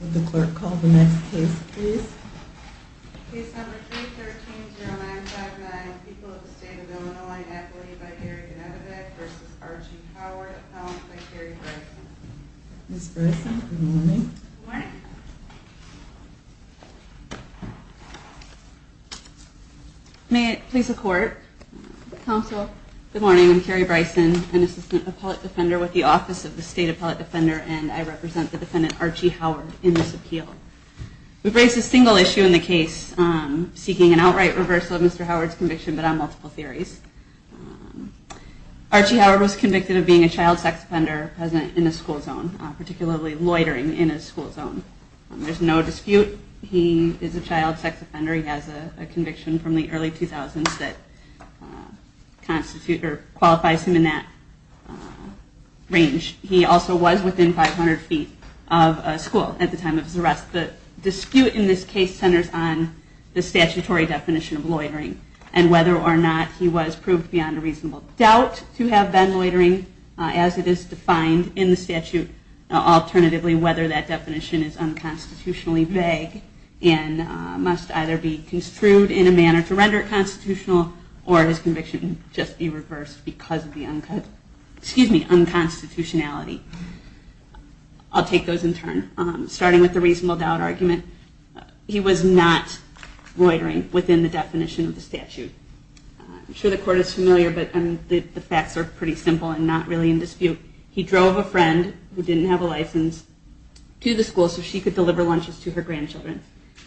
Would the clerk call the next case, please? Case number 313-0959, People of the State of Illinois, Affiliated by Gary Gnadevich v. Archie Howard, Appellant by Carrie Bryson. Ms. Bryson, good morning. Good morning. May it please the Court. Counsel. Good morning. I'm Carrie Bryson, an Assistant Appellate Defender with the Office of the State Appellate Defender, and I represent the defendant, Archie Howard, in this appeal. We've raised a single issue in the case seeking an outright reversal of Mr. Howard's conviction but on multiple theories. Archie Howard was convicted of being a child sex offender present in a school zone, particularly loitering in a school zone. There's no dispute he is a child sex offender. He has a conviction from the early 2000s that qualifies him in that range. He also was within 500 feet of a school at the time of his arrest. The dispute in this case centers on the statutory definition of loitering and whether or not he was proved beyond a reasonable doubt to have been loitering as it is defined in the statute. Alternatively, whether that definition is unconstitutionally vague and must either be construed in a manner to render it constitutional or his conviction just be reversed because of the unconstitutionality. I'll take those in turn. Starting with the reasonable doubt argument, he was not loitering within the definition of the statute. I'm sure the court is familiar, but the facts are pretty simple and not really in dispute. He drove a friend who didn't have a license to the school so she could deliver lunches to her grandchildren.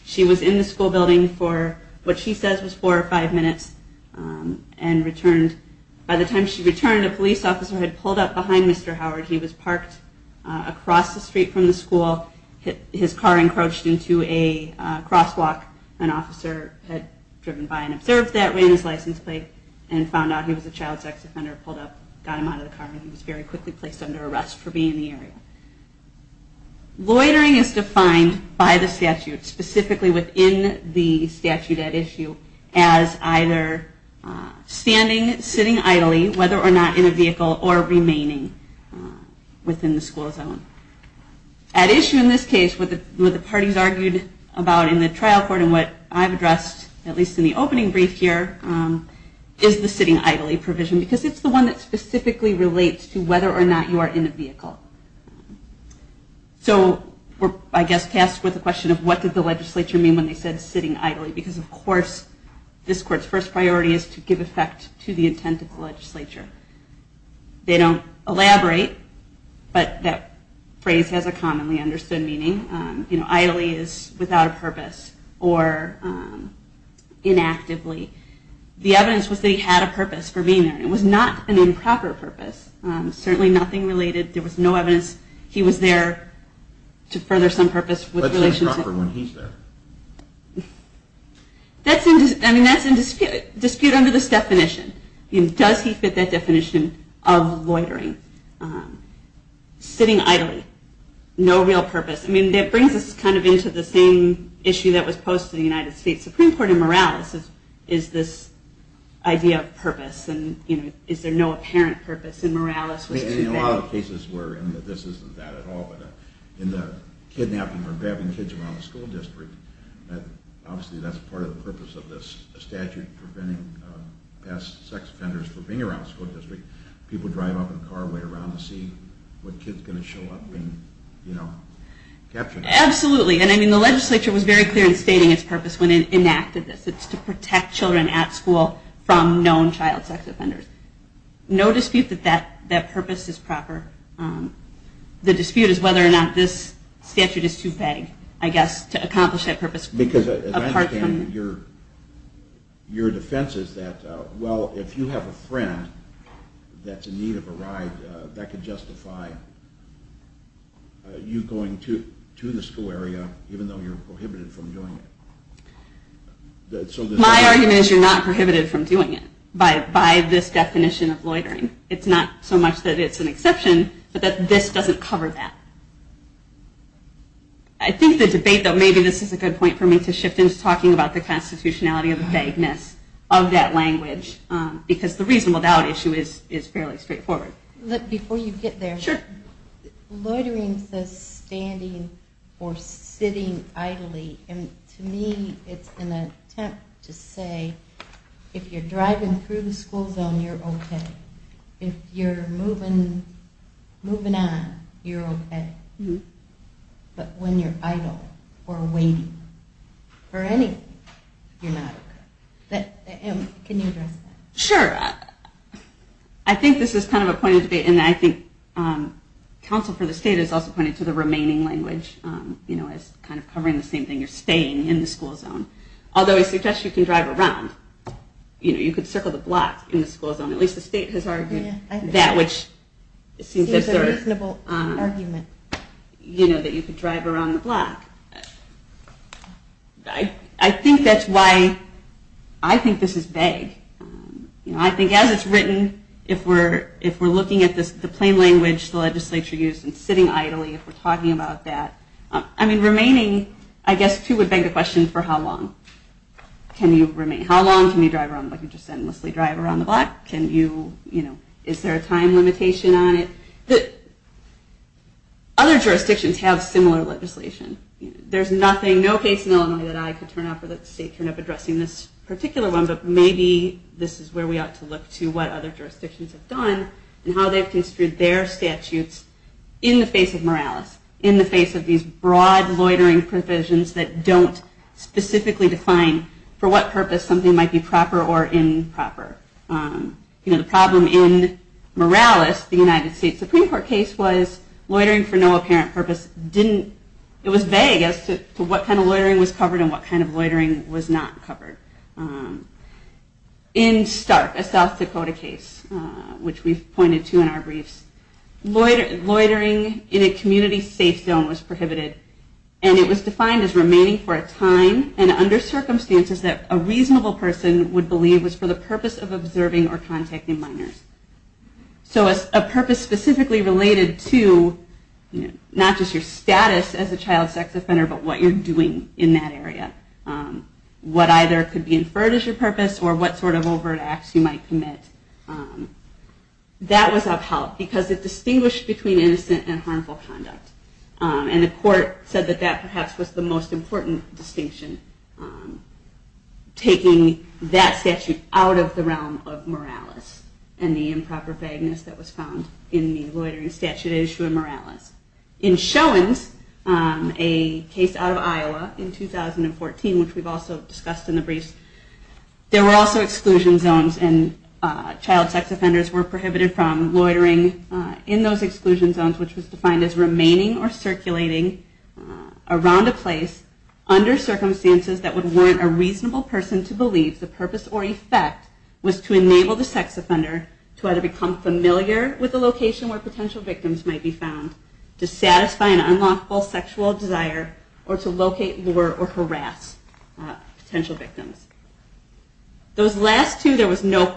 She was in the school building for what she says was four or five minutes and returned. By the time she returned, a police officer had pulled up behind Mr. Howard. He was parked across the street from the school. His car encroached into a crosswalk. An officer had driven by and observed that, ran his license plate, and found out he was a child sex offender, pulled up, got him out of the car, and he was very quickly placed under arrest for being in the area. Loitering is defined by the statute, specifically within the statute at issue as either standing, sitting idly, whether or not in a vehicle, or remaining within the school zone. At issue in this case, what the parties argued about in the trial court and what I've addressed, at least in the opening brief here, is the sitting idly provision because it's the one that specifically relates to whether or not you are in a vehicle. So we're, I guess, tasked with the question of what did the legislature mean when they said sitting idly because, of course, this court's first priority is to give effect to the intent of the legislature. They don't elaborate, but that phrase has a commonly understood meaning. You know, idly is without a purpose or inactively. The evidence was that he had a purpose for being there. It was not an improper purpose. Certainly nothing related. There was no evidence he was there to further some purpose with Senator Crawford when he's there. I mean, that's in dispute under this definition. Does he fit that definition of loitering? Sitting idly. No real purpose. I mean, that brings us kind of into the same issue that was posed to the United States Supreme Court in Morales is this idea of purpose. Is there no apparent purpose in Morales? In a lot of cases where this isn't that at all, but in the kidnapping or grabbing kids around the school district that obviously that's part of the purpose of this statute preventing past sex offenders from being around the school district. People drive up and car away around to see what kid's going to show up and, you know, capture them. Absolutely. And I mean, the legislature was very clear in stating its purpose when it enacted this. It's to protect children at school from known child sex offenders. No dispute that that purpose is proper. The dispute is whether or not this statute is too vague, I guess, to accomplish that purpose. Because as I understand it, your defense is that, well, if you have a friend that's in need of a ride, that could justify you going to the school area even though you're prohibited from doing it. My argument is you're not prohibited from doing it by this definition of loitering. It's not so much that it's an exception, but that this doesn't cover that. I think the debate, though, maybe this is a good point for me to shift into talking about the constitutionality of the vagueness of that language, because the reason without issue is fairly straightforward. Before you get there, loitering says standing or sitting idly, and to me it's an attempt to say if you're driving through the school zone, you're okay. If you're moving on, you're okay. But when you're idle or waiting for anything, you're not okay. Can you address that? Sure. I think this is kind of a point of debate, and I think counsel for the state is also pointing to the remaining language as kind of covering the same thing. You're staying in the school zone. Although I suggest you can drive around. You could circle the block in the school zone. At least the state has argued that, which seems a reasonable argument that you could drive around the block. I think that's why I think this is vague. I think as it's written, if we're looking at the plain language the legislature used, and sitting idly if we're talking about that, I mean, remaining, I guess, too, would beg the question for how long can you remain? How long can you endlessly drive around the block? Is there a time limitation on it? Other jurisdictions have similar legislation. There's no case in Illinois that I could turn up or that the state could turn up addressing this particular one, but maybe this is where we ought to look to what other jurisdictions have done and how they've construed their statutes in the face of morales, in the face of these broad loitering provisions that don't specifically define for what purpose something might be proper or improper. The problem in Morales, the United States Supreme Court case, was loitering for no apparent purpose. It was vague as to what kind of loitering was covered and what kind of loitering was not covered. In Stark, a South Dakota case, which we've pointed to in our briefs, loitering in a community safe zone was prohibited and it was defined as remaining for a time and under circumstances that a reasonable person would believe was for the purpose of observing or contacting minors. So a purpose specifically related to not just your status as a child sex offender, but what you're doing in that area. What either could be inferred as your purpose or what sort of overt acts you might commit. That was of help because it distinguished between innocent and harmful conduct. And the court said that that perhaps was the most important distinction, taking that statute out of the realm of Morales and the improper vagueness that was found in the loitering statute issued in Morales. In Showins, a case out of Iowa in 2014, which we've also discussed in the briefs, there were also exclusion zones and child sex offenders were prohibited from loitering in those exclusion zones, which was defined as remaining or circulating around a place under circumstances that would warrant a reasonable person to believe the purpose or effect was to enable the sex offender to either become familiar with the location where potential victims might be found, to satisfy an unlawful sexual desire, or to locate, lure, or harass potential victims. The court was concerned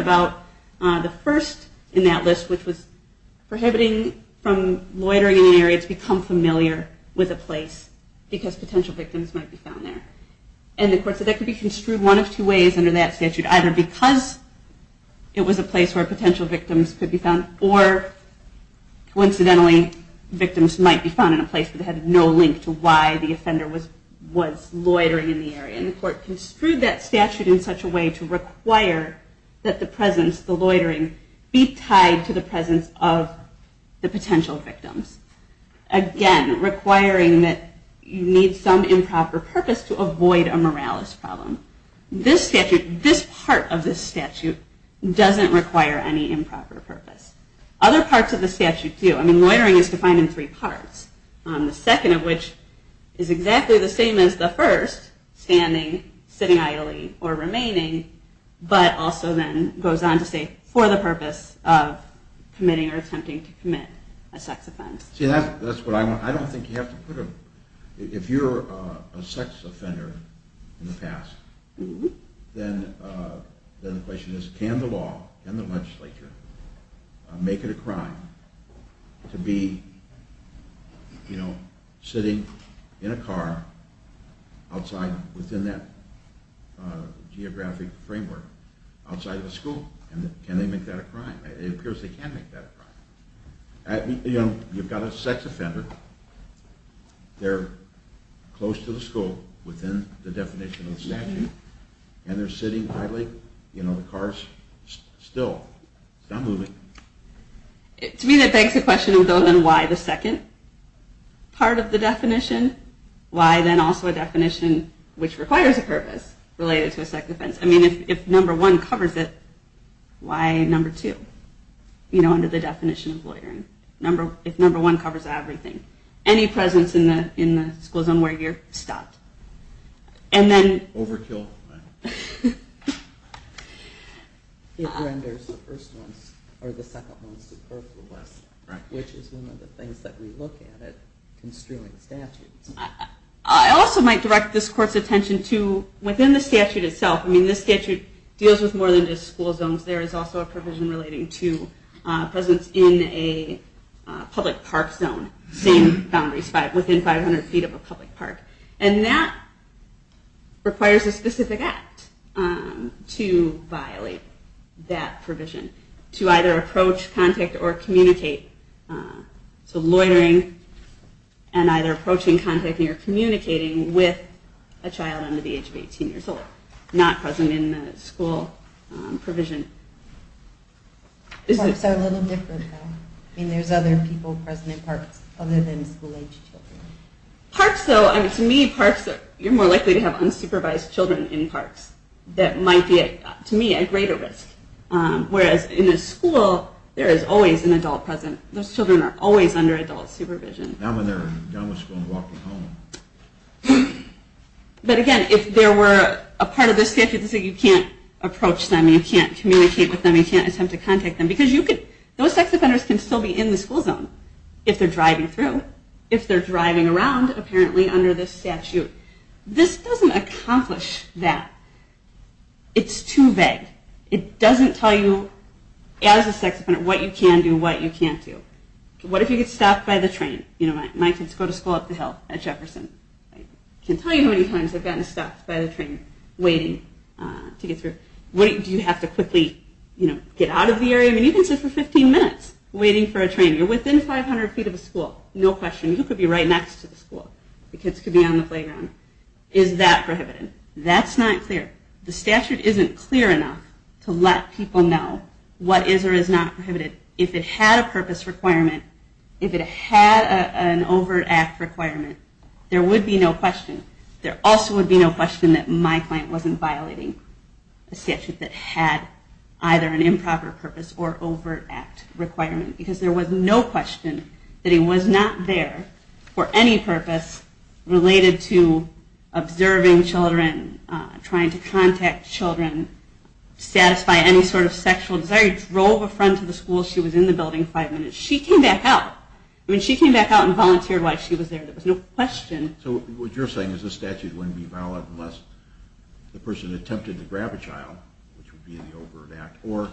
about the first in that list, which was prohibiting from loitering in an area to become familiar with a place because potential victims might be found there. And the court said that could be construed one of two ways under that statute, either because it was a place where potential victims could be found, or coincidentally, victims might be found in a place that had no link to why the offender was loitering in the area. And the court construed that statute in such a way to require that the presence of the loitering be tied to the presence of the potential victims. Again, requiring that you need some improper purpose to avoid a Morales problem. This part of the statute doesn't require any improper purpose. Other parts of the statute do. I mean, loitering is defined in three parts. The second of which is exactly the same as the first, standing, sitting idly, or remaining, but also then goes on to say for the purpose of committing or attempting to commit a sex offense. I don't think you have to put a... if you're a sex offender in the past, then the question is can the law and the legislature make it a crime to be, you know, sitting in a car outside, within that geographic framework, outside of the school? Can they make that a crime? It appears they can make that a crime. You know, you've got a sex offender, they're close to the school, within the definition of the statute, and they're sitting idly, you know, the car's still, still moving. To me that begs the question, then why the second part of the definition? Why then also a definition which requires a purpose related to a sex offense? I mean, if number one covers it, why number two? You know, under the definition of loitering. If number one covers everything. Any presence in the school zone where you're stopped. And then... Overkill. It renders the first ones, or the second ones, superfluous, which is one of the things that we look at in construing statutes. I also might direct this court's attention to, within the statute itself, I mean this statute deals with more than just school zones. There is also a provision relating to presence in a public park zone. Same boundaries, within 500 feet of a public park. And that requires a specific act to violate that provision. To either approach, contact, or communicate. So loitering and either approaching, contacting, or communicating with a child under the age of 18 years old. Not present in the school provision. Parks are a little different though. I mean, there's other people present in parks other than school aged children. Parks though, to me, you're more likely to have unsupervised children in parks. That might be, to me, a greater risk. Whereas in a school, there is always an adult present. Those children are always under adult supervision. But again, if there were a part of this statute that said you can't approach them, you can't communicate with them, you can't attempt to contact them. Because those sex offenders can still be in the school zone. If they're driving through. If they're driving around, apparently, under this statute. This doesn't accomplish that. It's too vague. It doesn't tell you as a sex offender what you can do, what you can't do. What if you get stopped by the train? My kids go to school up the hill at Jefferson. I can't tell you how many times I've gotten stopped by the train waiting to get through. Do you have to quickly get out of the area? I mean, you can sit for 15 minutes waiting for a train. You're within 500 feet of a school. No question. You could be right next to the school. The kids could be on the playground. Is that prohibited? That's not clear. The statute isn't clear enough to let people know what is or is not prohibited. If it had a purpose requirement, if it had an overt act requirement, there would be no question. There also would be no question that my client wasn't violating a statute that had either an improper purpose or overt act requirement. Because there was no question that he was not there for any purpose related to observing children, trying to contact children, satisfy any sort of sexual desire. He drove a friend to the school. She was in the building five minutes. She came back out. She came back out and volunteered while she was there. There was no question. So what you're saying is this statute wouldn't be valid unless the person attempted to grab a child, which would be the overt act, or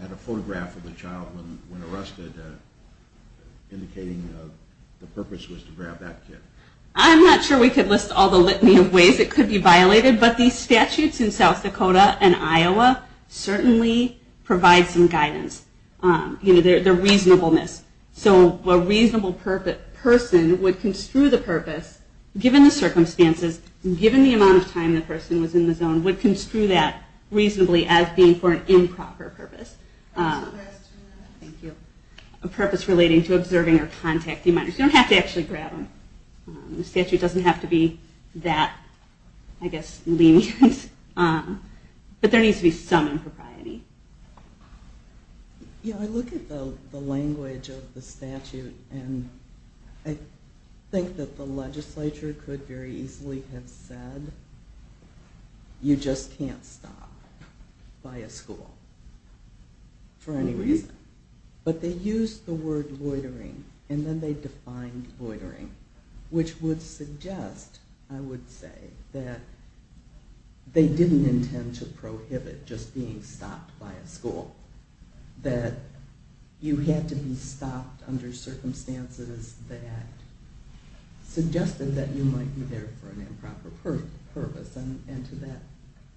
had a photograph of the child when arrested indicating the purpose was to grab that kid. I'm not sure we could list all the litany of ways it could be violated, but these statutes in South Dakota and Iowa certainly provide some guidance. The reasonableness. So a reasonable person would construe the purpose, given the circumstances, given the amount of time the person was in the zone, would construe that reasonably as being for an improper purpose. A purpose relating to observing or contacting minors. You don't have to actually grab them. The statute doesn't have to be that lenient. But there needs to be some impropriety. I look at the language of the statute and I think that the legislature could very easily have said you just can't stop by a school for any reason. But they used the word loitering and then they defined loitering, which would suggest, I would say, that they didn't intend to prohibit just being stopped by a school. That you had to be stopped under circumstances that suggested that you might be there for an improper purpose and to that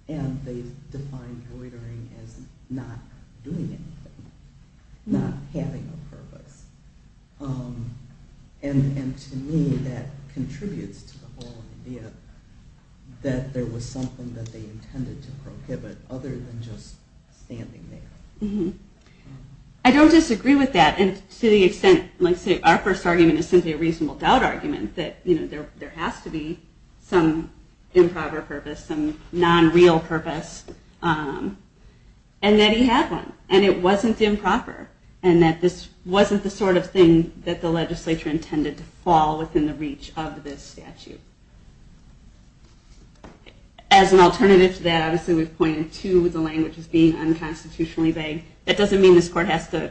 end they defined loitering as not doing anything. Not having a purpose. And to me that contributes to the whole idea that there was something that they intended to prohibit other than just standing there. I don't disagree with that and to the extent our first argument is simply a reasonable doubt argument that there has to be some improper purpose, some non-real purpose and that he had one and it wasn't improper and that this wasn't the sort of thing that the legislature intended to fall within the reach of this statute. As an alternative to that, obviously we've pointed to the language as being unconstitutionally vague. That doesn't mean this court has to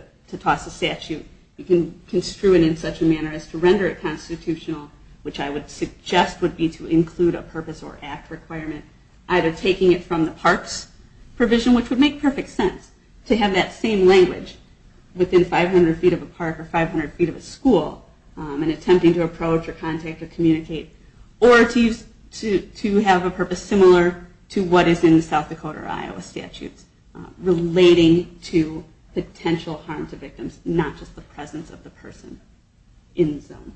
construe it in such a manner as to render it constitutional, which I would suggest would be to include a purpose or act requirement either taking it from the parks provision, which would make perfect sense to have that same language within 500 feet of a park or 500 feet of a school and attempting to approach or contact or communicate or to have a purpose similar to what is in the South Dakota or Iowa statutes relating to potential harm to a person in the zone.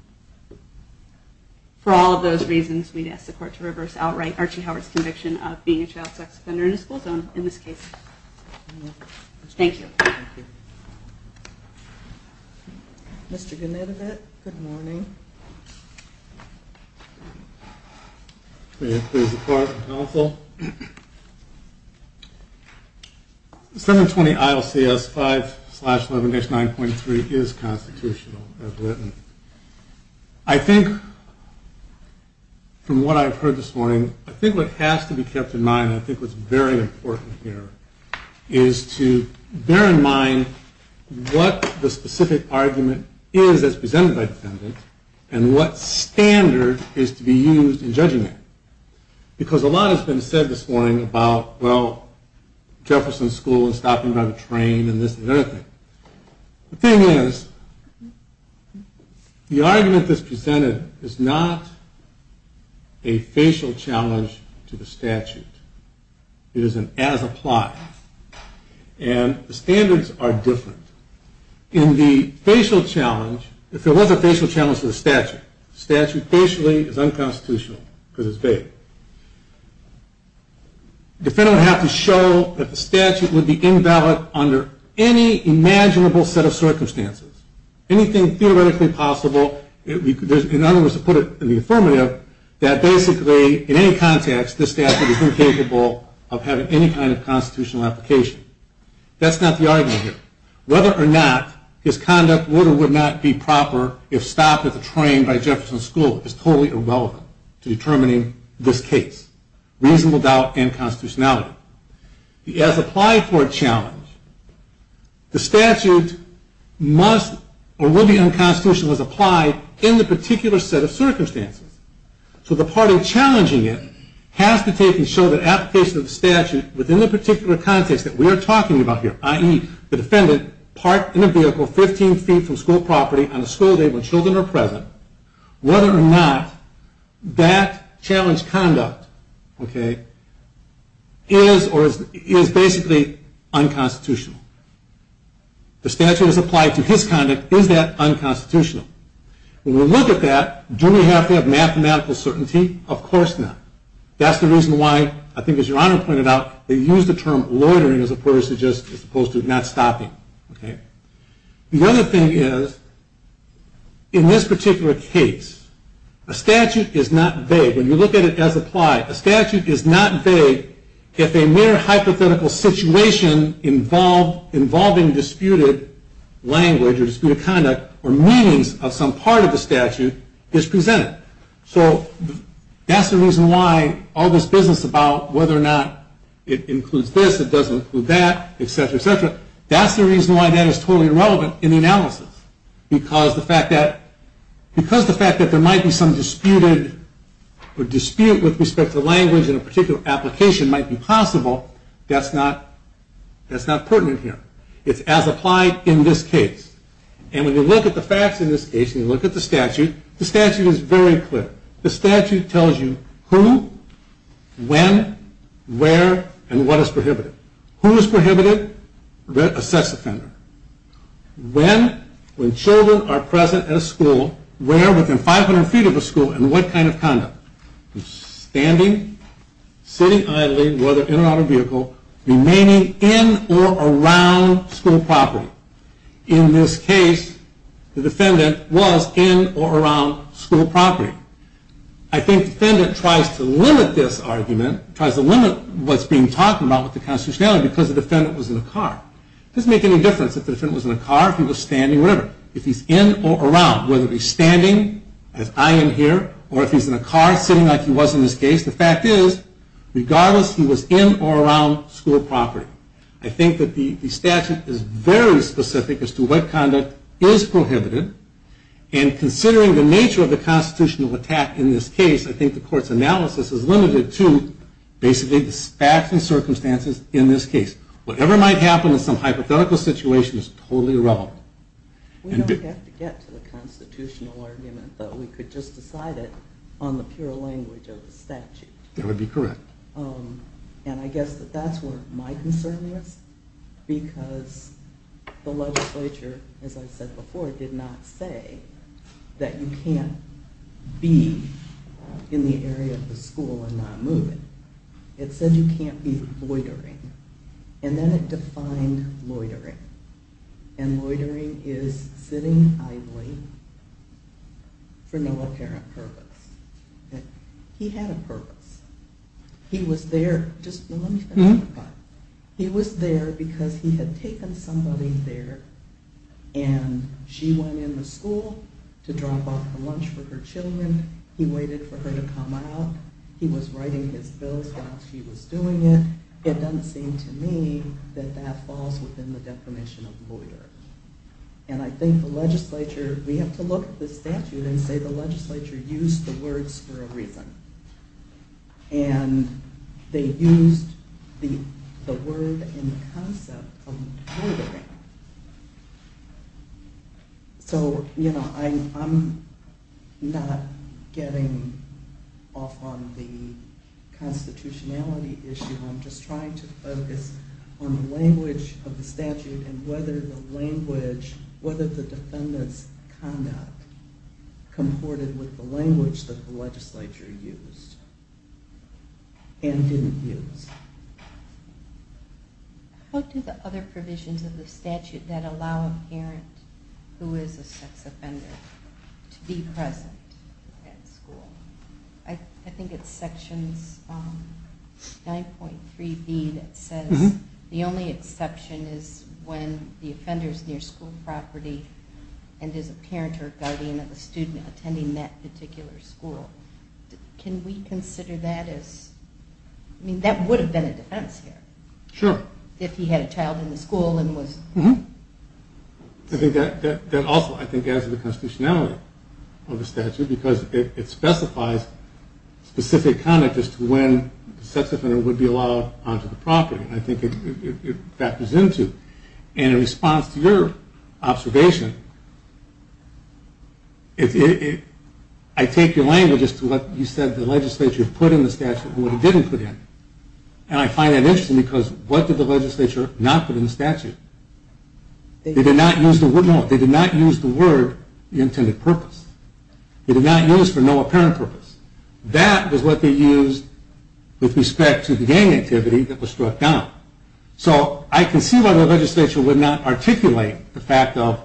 For all of those reasons, we'd ask the court to reverse outright Archie Howard's conviction of being a child sex offender in a school zone in this case. Thank you. Mr. Gnadevit. Good morning. May it please the court and counsel. Senate 20 ILCS 5 slash 11 9.3 is constitutional as written. I think from what I've heard this morning, I think what has to be kept in mind and I think what's very important here is to bear in mind what the specific argument is that's presented by the defendant and what standard is to be used in judging it. Because a lot has been said this morning about, well, Jefferson School and stopping by the park and everything. The thing is the argument that's presented is not a facial challenge to the statute. It is an as applied. And the standards are different. In the facial challenge, if there was a facial challenge to the statute, the statute facially is unconstitutional because it's vague. The defendant would have to show that the statute would be invalid under any imaginable set of circumstances. Anything theoretically possible. In other words, to put it in the affirmative, that basically in any context, the statute is incapable of having any kind of constitutional application. That's not the argument here. Whether or not his conduct would or would not be proper if stopped at the train by Jefferson School is totally irrelevant to determining this case. Reasonable doubt and constitutionality. As applied for a challenge, the statute must or will be unconstitutional as applied in the particular set of circumstances. So the part of challenging it has to take and show that application of the statute within the particular context that we are talking about here, i.e., the defendant parked in a vehicle 15 feet from school property on a school day when children are present, whether or not that challenge conduct is basically unconstitutional. The statute is applied to his conduct. Is that unconstitutional? When we look at that, do we have to have mathematical certainty? Of course not. That's the reason why, I think as Your Honor pointed out, they use the term loitering as opposed to not stopping. The other thing is in this particular case, a statute is not vague if a mere hypothetical situation involving disputed language or disputed conduct or meanings of some part of the statute is presented. So that's the reason why all this business about whether or not it includes this, it doesn't include that, etc., etc. That's the reason why that is totally irrelevant in the analysis. Because the fact that there might be some disputed or dispute with respect to language in a particular application might be possible, that's not pertinent here. It's as applied in this case. And when you look at the facts in this case, and you look at the statute, the statute is very clear. The statute tells you who, when, where, and what is prohibited. Who is prohibited? A sex offender. When? When children are present at a school. Where? Within 500 feet of a school. And what kind of conduct? Standing, sitting idly, whether in or out of a vehicle, remaining in or around school property. In this case, the defendant was in or around school property. I think the defendant tries to limit this argument, tries to limit what's being talked about with the constitutionality because the defendant was in a car. It doesn't make any difference if the defendant was in a car, if he was standing, whatever. If he's in or around, whether he's standing, as I am here, or if he's in a car sitting like he was in this case, the fact is, regardless if he was in or around school property. I think that the statute is very specific as to what conduct is prohibited, and considering the nature of the constitutional attack in this case, I think the court's analysis is limited to basically the facts and circumstances in this case. Whatever might happen in some hypothetical situation is totally irrelevant. We don't have to get to the constitutional argument, but we could just decide it on the pure language of the statute. That would be correct. And I guess that that's where my concern is because the legislature, as I said before, did not say that you can't be in the area of the school and not move it. It said you can't be loitering. And then it defined loitering. And loitering is sitting idly for no apparent purpose. He had a purpose. He was there because he had taken somebody there and she went in the school to drop off lunch for her children. He waited for her to come out. He was writing his bills while she was doing it. It doesn't seem to me that that falls within the definition of loitering. And I think the legislature, we have to look at the statute and say the legislature used the words for a reason. And they used the word and concept of loitering. So I'm not getting off on the constitutionality issue. I'm just trying to focus on the language of the statute and whether the language, whether the defendant's conduct comported with the language that the legislature used and didn't use. How do the other provisions of the statute that allow a parent who is a sex offender to be present at school? I think it's sections 9.3b that says the only exception is when the offender is near school property and is a parent or guardian of a student attending that particular school. Can we consider that as I mean that would have been a defense here. Sure. If he had a child in the school and was. I think that also adds to the constitutionality of the statute because it specifies specific conduct as to when the sex offender would be allowed onto the property. I think it factors into. And in response to your observation I take your language as to what you said the legislature put in the statute and what it didn't put in. And I find that interesting because what did the legislature not put in the statute? They did not use the word no. They did not use the word the intended purpose. They did not use for no apparent purpose. That was what they used with respect to the gang activity that was struck down. So I can see why the legislature would not articulate the fact of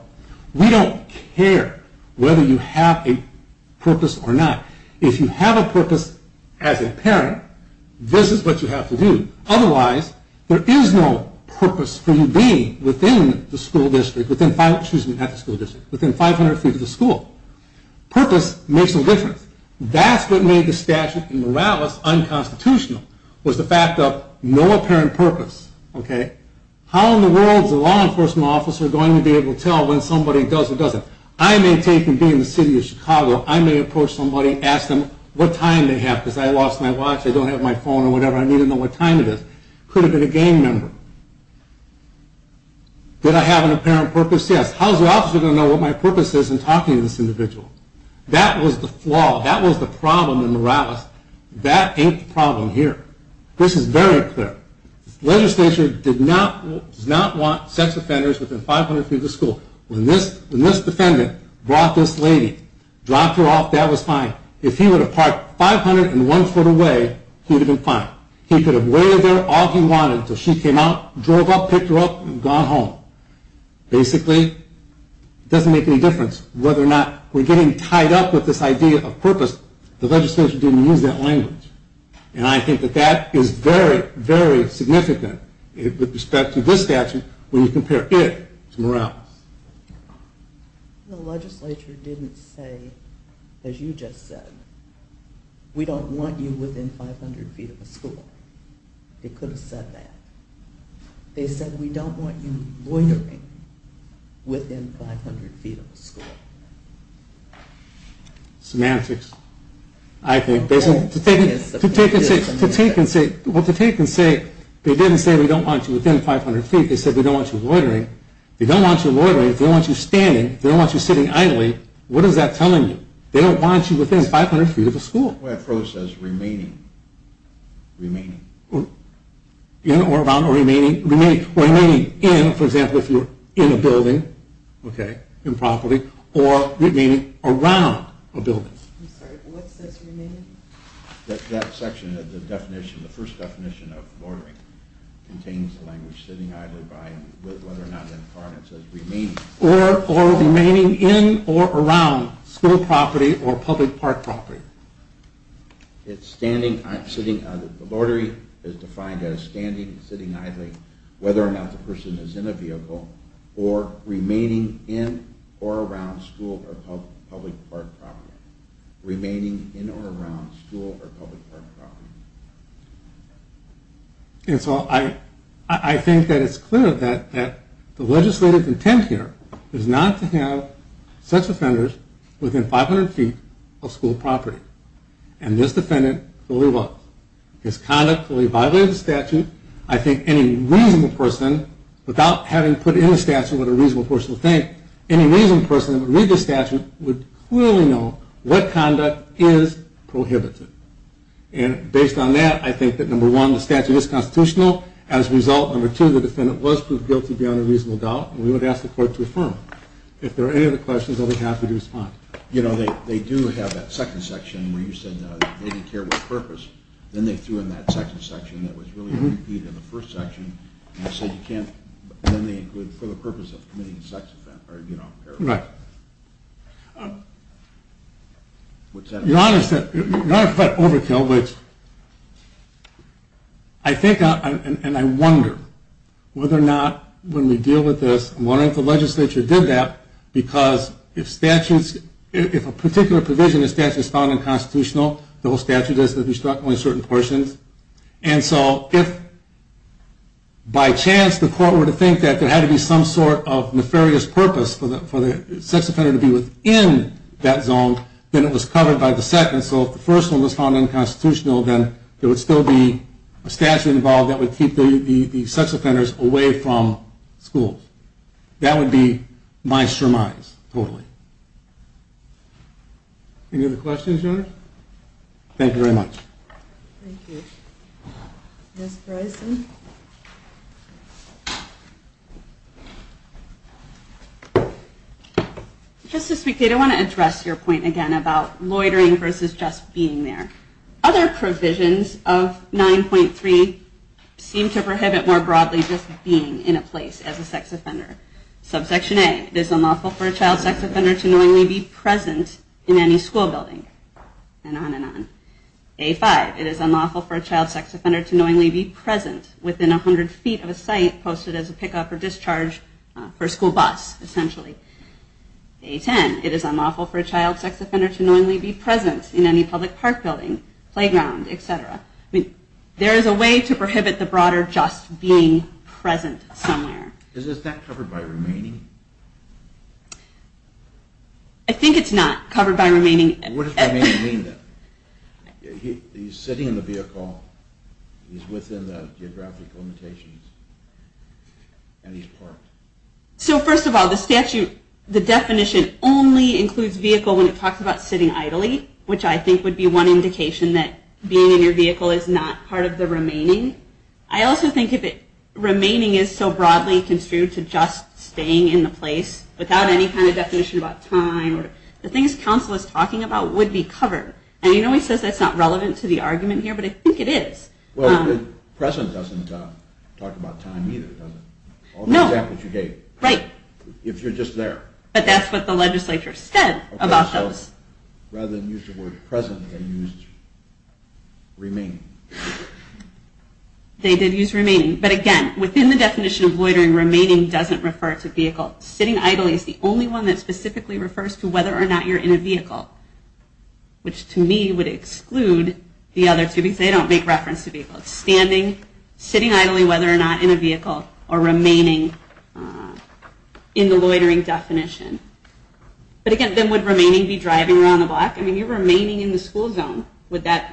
we don't care whether you have a purpose or not. If you have a purpose as a parent this is what you have to do. Otherwise there is no purpose for you being within the school district within 500 feet of the school. Purpose makes no difference. That's what made the statute in Morales unconstitutional was the fact of no apparent purpose. How in the world is a law enforcement officer going to be able to tell when somebody does or doesn't? I may take and be in the city of Chicago. I may approach somebody and ask them what time they have because I lost my watch. I don't have my phone or whatever. I need to know what time it is. Could it have been a gang member? Did I have an apparent purpose? Yes. How is the officer going to know what my purpose is in talking to this individual? That was the flaw. That was the problem in Morales. That ain't the problem here. This is very clear. The legislature did not want sex offenders within 500 feet of the school. When this defendant brought this lady, dropped her off, that was fine. If he would have parked 501 foot away, he would have been fine. He could have waited there all he wanted until she came out, drove up, picked her up and gone home. Basically, it doesn't make any difference whether or not we are getting tied up with this idea of purpose. The legislature didn't use that language. And I think that that is very significant with respect to this statute when you compare it to Morales. The legislature didn't say, as you just said, we don't want you within 500 feet of a school. They could have said that. They said, we don't want you loitering within 500 feet of the school. Semantics. Well, to take and say, they didn't say we don't want you within 500 feet. They said, we don't want you loitering. They don't want you loitering. They don't want you standing. They don't want you sitting idly. What is that telling you? They don't want you within 500 feet of the school. In or around or remaining. Remaining in, for example, if you're in a building. Or remaining around a building. That section, the definition, the first definition of loitering contains the language sitting idly behind you. Whether or not in part it says remaining. Or remaining in or around school property or public park property. The loitering is defined as standing, sitting idly, whether or not the person is in a vehicle, or remaining in or around school or public park property. Remaining in or around school or public park property. And so I think that it's clear that the legislative intent here is not to have such offenders within 500 feet of school property. And this defendant clearly was. His conduct clearly violated the statute. I think any reasonable person, without having put in the statute what a reasonable person would think, any reasonable person that would read the statute would clearly know what conduct is prohibited. And based on that, I think that number one, the statute is constitutional. As a result, number two, the defendant was proved guilty beyond a reasonable doubt. And we would ask the court to affirm. If there are any other questions, I'll be happy to respond. You know, they do have that second section where you said they didn't care what purpose. Then they threw in that second section that was really repeated in the first section and said you can't, then they included, for the purpose of committing a sex offence. Right. Your Honor said, Your Honor said overkill, but I think, and I wonder whether or not when we deal with this, I'm wondering if the legislature did that because if statutes, if a particular provision in statute is found unconstitutional, the whole statute is that we struck only certain portions. And so if by chance the court were to think that there had to be some sort of nefarious purpose for the sex offender to be within that zone, then it was covered by the second. And so if the first one was found unconstitutional, then there would still be a statute involved that would keep the sex offenders away from schools. That would be my surmise, totally. Any other questions, Your Honor? Thank you very much. Thank you. Ms. Bryson? Just to speak, Kate, I want to address your point again about loitering versus just being there. Other provisions of 9.3 seem to prohibit more broadly just being in a place as a sex offender. Subsection A, it is unlawful for a child sex offender to knowingly be present in any school building. And on and on. A5, it is unlawful for a child sex offender to knowingly be present within 100 feet of a site posted as a pickup or discharge for a school bus, essentially. A10, it is unlawful for a child sex offender to knowingly be present in any public park building, playground, etc. There is a way to prohibit the broader just being present somewhere. Is that covered by remaining? I think it's not covered by remaining. What does remaining mean then? He's sitting in the vehicle, he's within the geographic limitations, and he's parked. So first of all, the statute, the definition only includes vehicle when it talks about sitting idly, which I think would be one indication that being in your vehicle is not part of the remaining. I also think if remaining is so broadly construed to just staying in the place without any kind of definition about time, the things council is talking about would be covered. And you know he says that's not relevant to the argument here, but I think it is. Well, the present doesn't talk about time either, does it? No. All the examples you gave. Right. If you're just there. But that's what the legislature said about those. Rather than use the word present, they used remaining. They did use remaining, but again, within the definition of loitering, remaining doesn't refer to vehicle. Sitting idly is the only one that specifically refers to whether or not you're in a vehicle, which to me would exclude the other two, because they don't make reference to vehicle. Standing, sitting idly whether or not in a vehicle, or remaining in the loitering definition. But again, then would remaining be driving around the block? I mean, you're remaining in the school zone.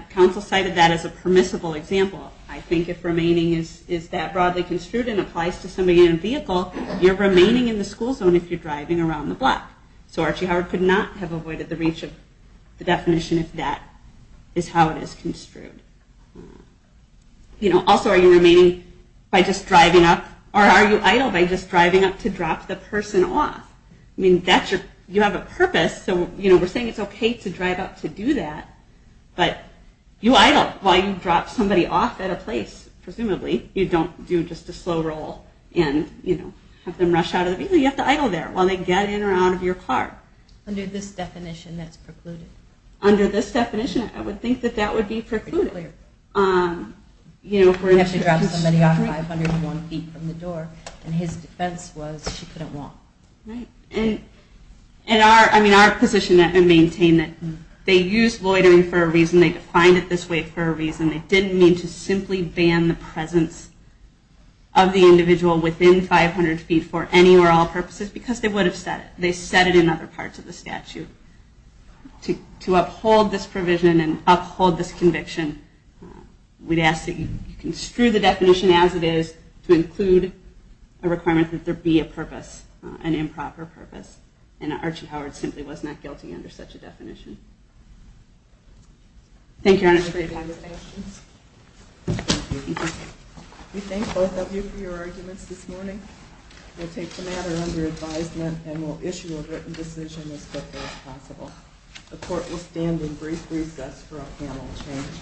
Council cited that as a permissible example. I think if remaining is that broadly construed and applies to somebody in a vehicle, you're remaining in the school zone if you're driving around the block. So Archie Howard could not have avoided the reach of the definition if that is how it is construed. Also, are you remaining by just driving up, or are you idle by just driving up to drop the person off? You have a purpose, so we're saying it's okay to drive up to do that, but you idle while you drop somebody off at a place, presumably. You don't do just a slow roll and have them rush out of the vehicle. You have to idle there while they get in or out of your car. Under this definition, that's precluded. Under this definition, I would think that that would be precluded. You have to drop somebody off 501 feet from the door, and his defense was she couldn't walk. Our position at Maintain that they used loitering for a reason, they defined it this way for a reason. They didn't mean to simply ban the presence of the individual within 500 feet for any or all purposes because they would have said it. They said it in other parts of the statute to uphold this provision and uphold this conviction. We'd ask that you construe the definition as it is to include a requirement that there be a purpose, an improper purpose, and Archie Howard simply was not guilty under such a definition. Thank you, Your Honor. We thank both of you for your arguments this morning. We'll take the matter under advisement and we'll issue a written decision as quickly as possible. The Court will stand in brief recess for a panel change.